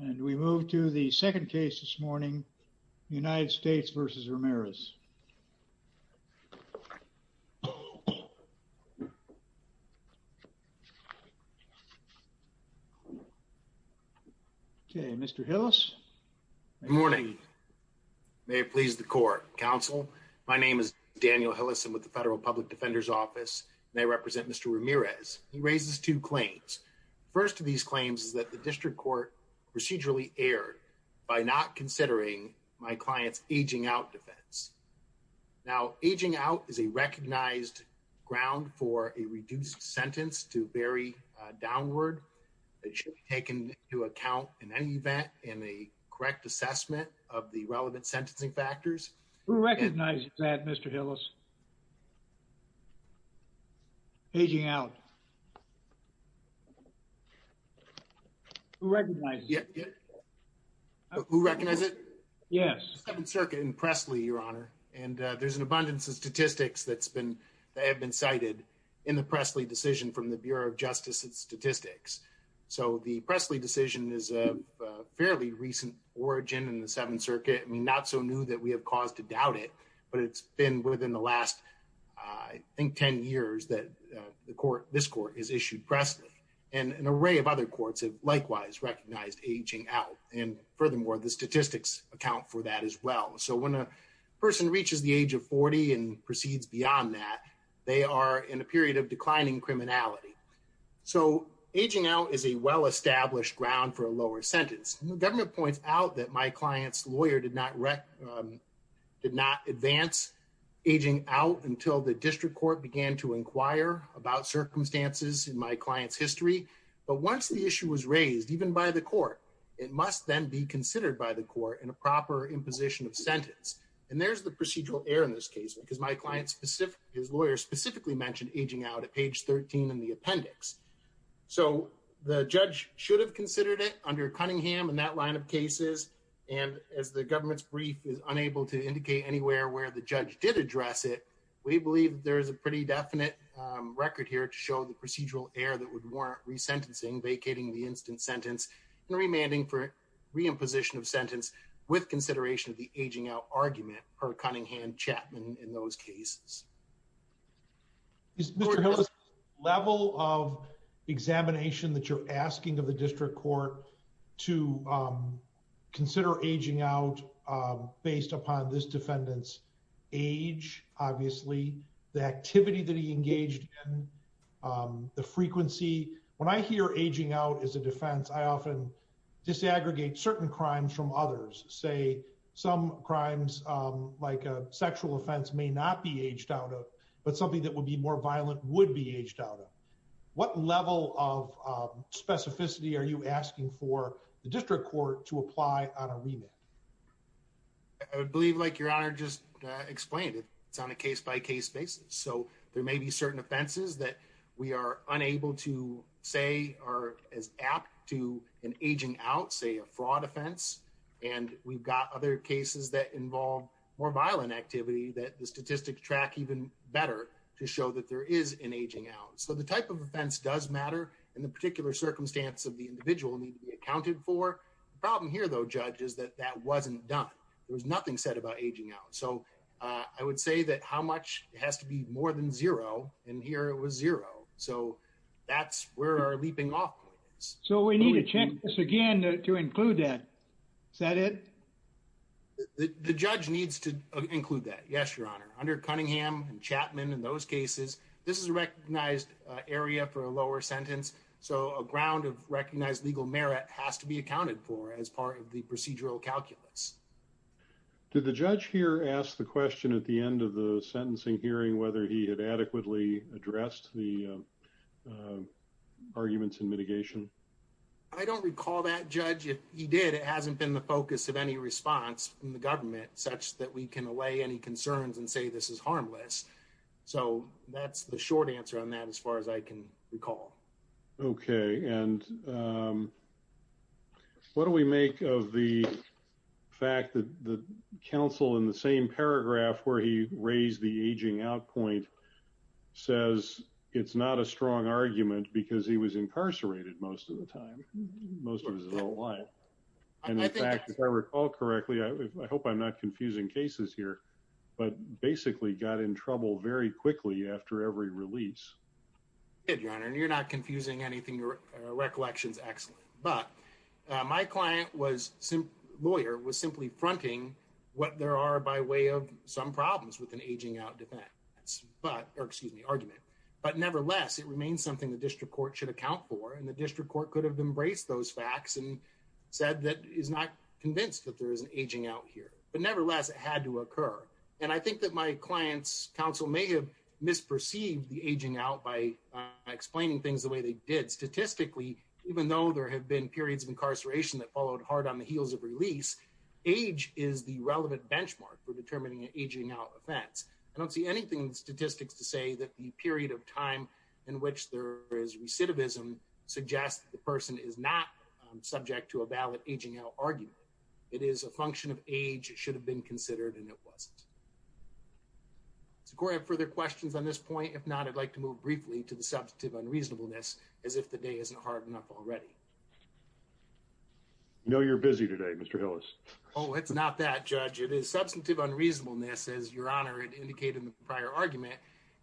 and we move to the second case this morning United States v. Ramirez okay mr. Hillis morning may it please the court counsel my name is Daniel Hillis and with the federal public defender's office may represent mr. Ramirez he procedurally aired by not considering my clients aging out defense now aging out is a recognized ground for a reduced sentence to very downward it should be taken to account in any event in the correct assessment of the relevant who recognize it yes circuit in Presley your honor and there's an abundance of statistics that's been they have been cited in the Presley decision from the Bureau of Justice and statistics so the Presley decision is a fairly recent origin in the Seventh Circuit I mean not so new that we have cause to doubt it but it's been within the last I think ten years that the court this court is recognized aging out and furthermore the statistics account for that as well so when a person reaches the age of 40 and proceeds beyond that they are in a period of declining criminality so aging out is a well-established ground for a lower sentence government points out that my clients lawyer did not wreck did not advance aging out until the district court began to inquire about issue was raised even by the court it must then be considered by the court in a proper imposition of sentence and there's the procedural error in this case because my client specific his lawyer specifically mentioned aging out at page 13 in the appendix so the judge should have considered it under Cunningham and that line of cases and as the government's brief is unable to indicate anywhere where the judge did address it we believe there is a pretty definite record here to show the procedural error that would warrant resentencing vacating the instant sentence remanding for reimposition of sentence with consideration of the aging out argument for Cunningham Chapman in those cases. Is there a level of examination that you're asking of the district court to consider aging out based upon this defendants age obviously the activity engaged the frequency when I hear aging out as a defense I often disaggregate certain crimes from others say some crimes like a sexual offense may not be aged out of but something that would be more violent would be aged out of what level of specificity are you asking for the district court to apply on a remand? I believe like your honor just explained it it's on a case by case basis so there may be certain offenses that we are unable to say are as apt to an aging out say a fraud offense and we've got other cases that involve more violent activity that the statistics track even better to show that there is an aging out so the type of offense does matter in the particular circumstance of the individual need to be accounted for problem here though judges that that wasn't done there's nothing said about aging out so I would say that how much has to be more than 0 and here it was 0 so that's where are we being off so we need to change this again to include that said it. The judge needs to include that yes your honor under Cunningham Chapman in those cases this is recognized area for a lower sentence so ground of recognized legal merit has to be accounted for as part of the procedural calculus. Did the judge here ask the question at the end of the sentencing hearing whether he had adequately addressed the arguments in mitigation I don't recall that judge if he did it hasn't been the focus of any response from the government such that we can allay any concerns and say this is harmless so that's the short answer on that as far as I can recall okay and what do we make of the fact that the counsel in the same paragraph where he raised the aging out point. Says it's not a strong argument because he was incarcerated most of the time most of us don't want. And I think I recall correctly I hope I'm not confusing cases here. But basically got in trouble very quickly after every release. If you're not confusing anything or recollections excellent but my client was some lawyer was simply fronting what there are by way of some problems with an aging out defense but excuse me argument but nevertheless it remains something the district court should account for in the district court could have embraced those facts and said that is not convinced that there is an aging out here but nevertheless it had to occur and I think that my clients Council may have misperceived the aging out by explaining things the way they did statistically even though there have been periods of incarceration that followed hard on the heels of release. Age is the relevant benchmark for determining aging out that's I don't see anything statistics to say that the period of time in which there is recidivism suggest the person is not subject to a ballot aging argument. It is a function of age should have been considered and it was. It's great for their questions on this point if not I'd like to move briefly to the subject of unreasonableness as if the day isn't hard enough already. No you're busy today, Mister Hills. It's not that judge it is substantive unreasonableness as your honor indicated prior argument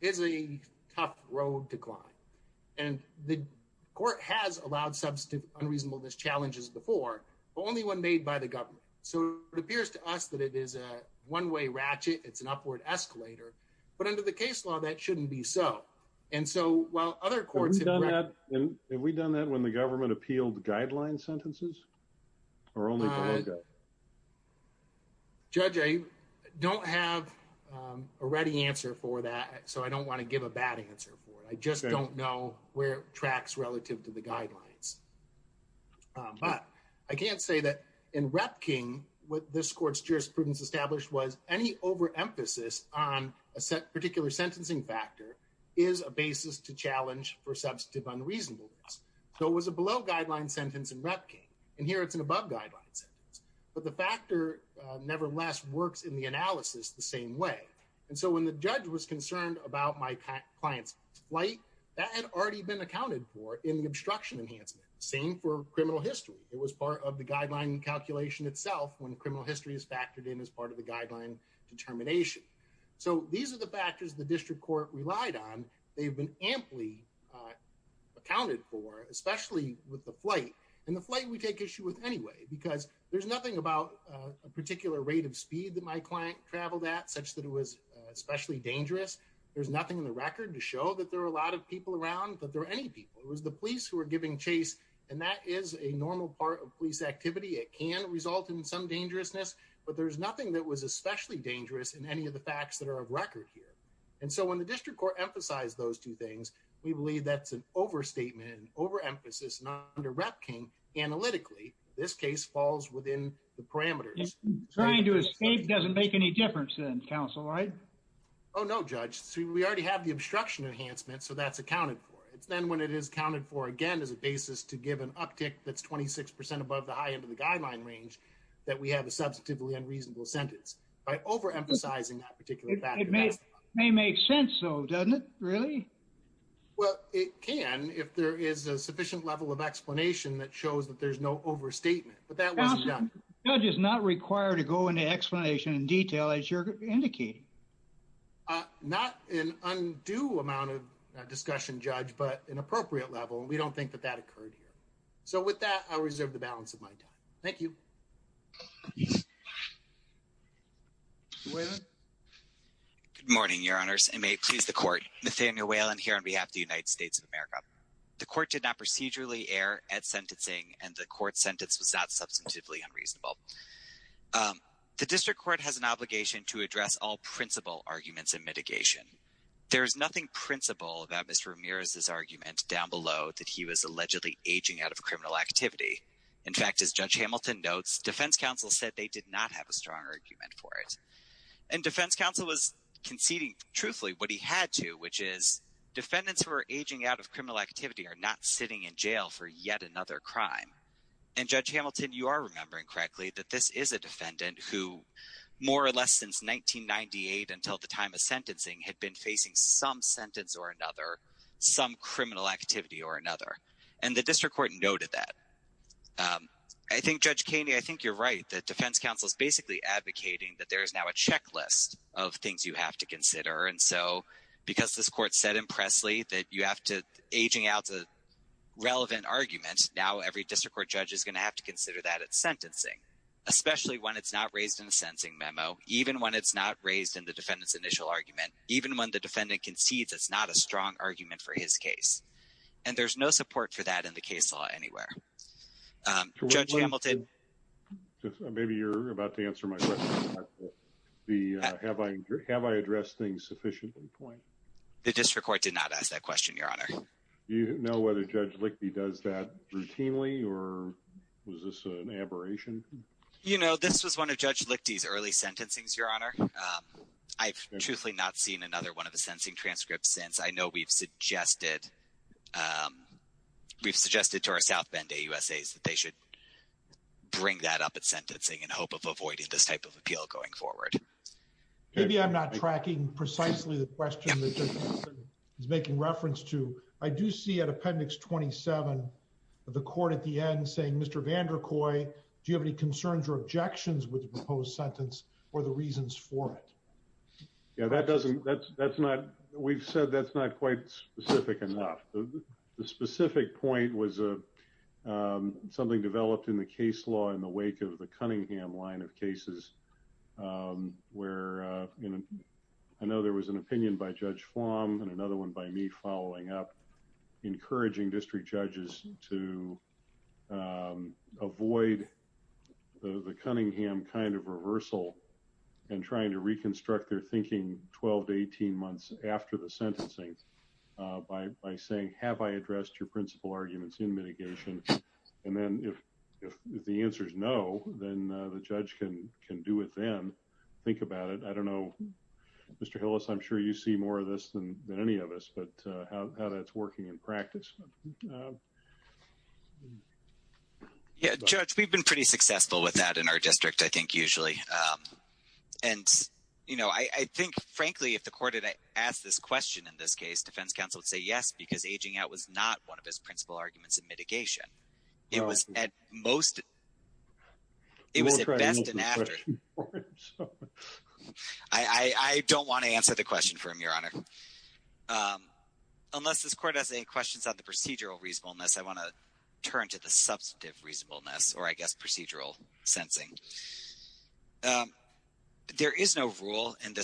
is a tough road to climb. Court has allowed some stiff unreasonable this challenges before only one made by the government so it appears to us that it is a one-way ratchet it's an upward escalator, but under the case law that shouldn't be so and so well other courts are not and we've done that when the government appealed guideline sentences. We're only going to go. Judge I don't have a ready answer for that so I don't want to give a bad answer for I just don't know where tracks relative to the guidelines. I can't say that in wrecking with this court's jurisprudence established was any over emphasis on a set particular sentencing factor is a basis to challenge for substantive unreasonableness so was a below guideline sentence in wrecking and here it's an above guidelines, but the factor never less works in the analysis the same way and so when the judge was concerned about my client's flight that had already been accounted for in the obstruction enhancement same for criminal history it was part of the guideline calculation itself when criminal history is factored in as part of the guideline determination. So these are the factors the district court relied on they've been amply accounted for especially with the flight and the flight we take issue with anyway because there's nothing about a particular rate of speed that my client traveled at such that it was especially dangerous. There's nothing in the record to show that there are a lot of people around that there are any people was the police were giving chase and that is a normal part of police activity it can result in some dangerousness but there's nothing that was especially dangerous in any of the facts that are of record here and so when the district court emphasized those two things we believe that's an overstatement over emphasis not under wrecking analytically this case falls within the parameters. Trying to escape doesn't make any difference in counsel right? Oh no judge see we already have the obstruction enhancement so that's accounted for it's then when it is counted for again as a basis to give an uptick that's 26% above the high end of the guideline range that we have a substantively unreasonable sentence by overemphasizing that particular it may may make sense so doesn't it really? Well it can if there is a sufficient level of explanation that shows that there's no overstatement but that wasn't done. Judge is not required to go into explanation in detail as you're indicating. Not an undue amount of discussion judge but an appropriate level we don't think that occurred here. So with that I reserve the balance of my time. Thank you. Good morning your honors and may it please the court. Nathaniel Whalen here on behalf the United States of America. The court did not procedurally err at sentencing and the court sentence was not substantively unreasonable. The district court has an obligation to address all principal arguments in mitigation. There is nothing principal about Mr. Ramirez's that he was allegedly aging out of criminal activity. In fact as Judge Hamilton notes defense counsel said they did not have a strong argument for it. And defense counsel was conceding truthfully what he had to which is defendants who are aging out of criminal activity are not sitting in jail for yet another crime. And Judge Hamilton you are remembering correctly that this is a defendant who more or less since 1998 until the time of sentencing had been facing some sentence or another some criminal activity or another. And the district court noted that. I think Judge Keeney I think you're right that defense counsel is basically advocating that there is now a checklist of things you have to consider. And so because this court said impressly that you have to aging out to relevant arguments now every district court judge is gonna have to consider that at sentencing. Especially when it's not raised in the sentencing memo. Even when it's not raised in the defendant's initial argument. Even when the defendant concedes it's not a strong argument for his case. And there's no support for that in the case law anywhere. Judge Hamilton. Maybe you're about to answer my question. Have I addressed things sufficiently? The district court did not ask that question your honor. Do you know whether Judge Lichty does that routinely or was this an aberration? You know this was one of Judge Lichty's early sentencings your honor. I've truthfully not seen another one of the sentencing transcripts since. I know we've suggested we've suggested to our South Bend AUSAs that they should bring that up at sentencing in hope of avoiding this type of appeal going forward. Maybe I'm not tracking precisely the question that Judge Hamilton is making reference to. I do see at appendix 27 of the court at the end saying Mr. Vander Kooi do you have any objections with the proposed sentence or the reasons for it? Yeah that doesn't that's that's not we've said that's not quite specific enough. The specific point was a something developed in the case law in the wake of the Cunningham line of cases where you know I know there was an opinion by Judge Flom and another one by me following up encouraging district judges to avoid the Cunningham kind of reversal and trying to reconstruct their thinking 12 to 18 months after the sentencing by saying have I addressed your principal arguments in mitigation and then if the answer is no then the judge can can do it then. Think about it. I don't know Mr. Hillis I'm sure you see more of this than any of us but how that's working in practice. Yeah Judge we've been pretty successful with that in our district I think usually and you know I think frankly if the court had asked this question in this case defense counsel would say yes because aging out was not one of his principal arguments in mitigation it was at most I don't want to answer the question for him your honor unless this court has any questions on the procedural reasonableness I want to turn to the substantive reasonableness or I guess procedural sensing. There is no rule in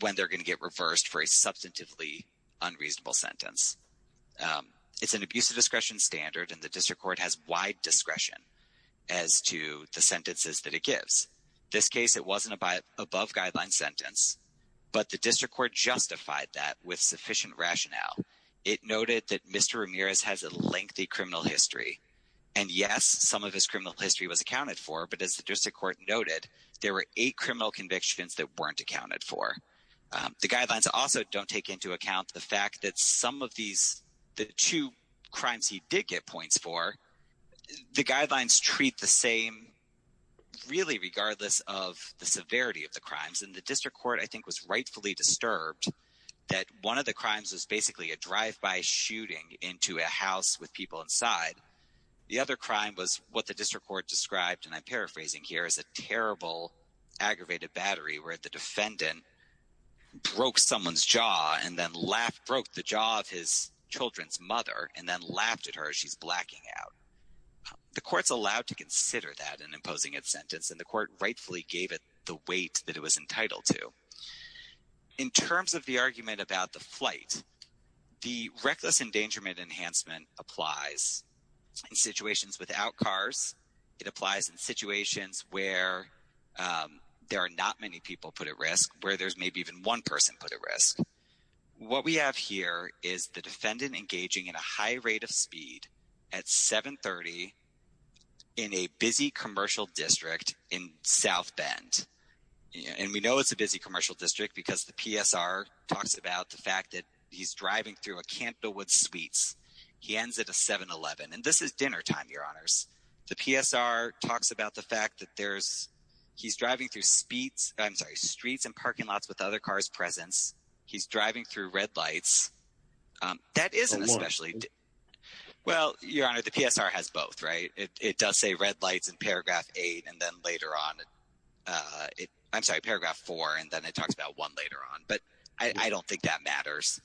when they're going to get reversed for a substantively unreasonable sentence. It's an abuse of discretion standard and the district court has wide discretion as to the sentences that it gives. This case it wasn't a by above guideline sentence but the district court justified that with sufficient rationale. It noted that Mr. Ramirez has a lengthy criminal history and yes some of his criminal history was accounted for but as the district court noted there were eight criminal convictions that weren't accounted for. The guidelines also don't take into account the fact that some of these the two crimes he did get points for the guidelines treat the same really regardless of the severity of the crimes and the district court I think was rightfully disturbed that one of the crimes was basically a drive-by shooting into a house with people inside. The other crime was what the district court described and I'm paraphrasing here is a battery where the defendant broke someone's jaw and then laughed broke the jaw of his children's mother and then laughed at her as she's blacking out. The court's allowed to consider that in imposing its sentence and the court rightfully gave it the weight that it was entitled to. In terms of the argument about the flight the reckless endangerment enhancement applies in where there's maybe even one person put at risk. What we have here is the defendant engaging in a high rate of speed at 730 in a busy commercial district in South Bend and we know it's a busy commercial district because the PSR talks about the fact that he's driving through a Campbell Woods suites he ends at a 7-eleven and this is dinnertime your honors. The PSR talks about the fact that there's he's driving through streets and parking lots with other cars presence he's driving through red lights that isn't especially well your honor the PSR has both right it does say red lights in paragraph eight and then later on it I'm sorry paragraph four and then it talks about one later on but I don't think that matters.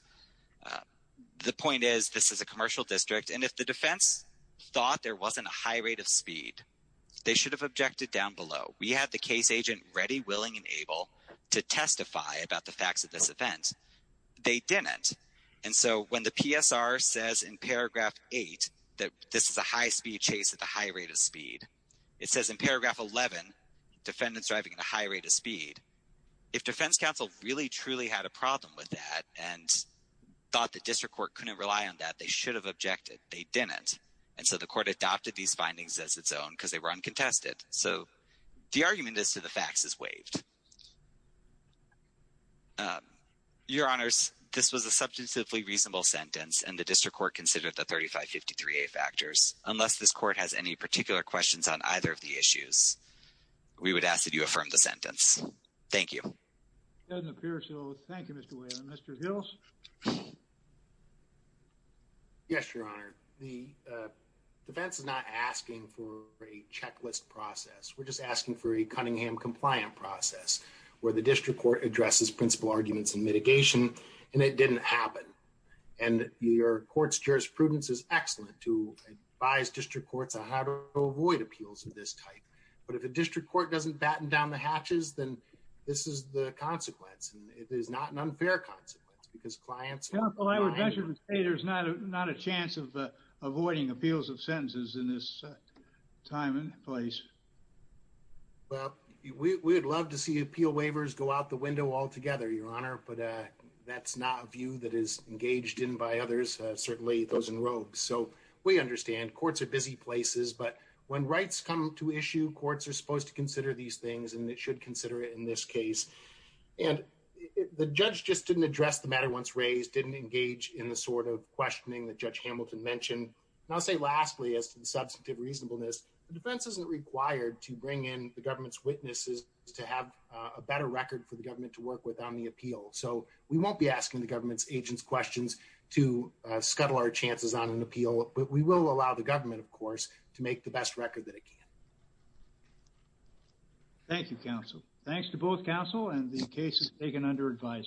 The point is this is a commercial district and if the defense thought there wasn't a high rate of speed they should have objected down below we have the case agent ready willing and able to testify about the facts of this event they didn't and so when the PSR says in paragraph 8 that this is a high-speed chase at the high rate of speed it says in paragraph 11 defendants driving at a high rate of speed if defense counsel really truly had a problem with that and thought the district court couldn't rely on that they should have objected they didn't and so the court adopted these findings as its own because they were uncontested so the argument is to the facts is waived your honors this was a substantively reasonable sentence and the district court considered the 3553 a factors unless this court has any particular questions on either of the issues we would ask that you affirm the sentence thank you thank you mr. Hills yes your honor the defense is not asking for a checklist process we're just asking for a Cunningham compliant process where the district court addresses principal arguments and mitigation and it didn't happen and your courts jurisprudence is excellent to advise district courts on how to avoid appeals of this type but if a district court doesn't batten down the it is not an unfair consequence because clients there's not a not a chance of avoiding appeals of sentences in this time and place but we would love to see appeal waivers go out the window altogether your honor but that's not a view that is engaged in by others certainly those in robes so we understand courts are busy places but when rights come to issue courts are supposed to consider these things and it should consider it in this case and the judge just didn't address the matter once raised didn't engage in the sort of questioning that judge Hamilton mentioned I'll say lastly as to the substantive reasonableness the defense isn't required to bring in the government's witnesses to have a better record for the government to work with on the appeal so we won't be asking the government's agents questions to scuttle our chances on an appeal but we will allow the government of course to make the best record that it can thank you counsel thanks to both counsel and the case is taken under advisement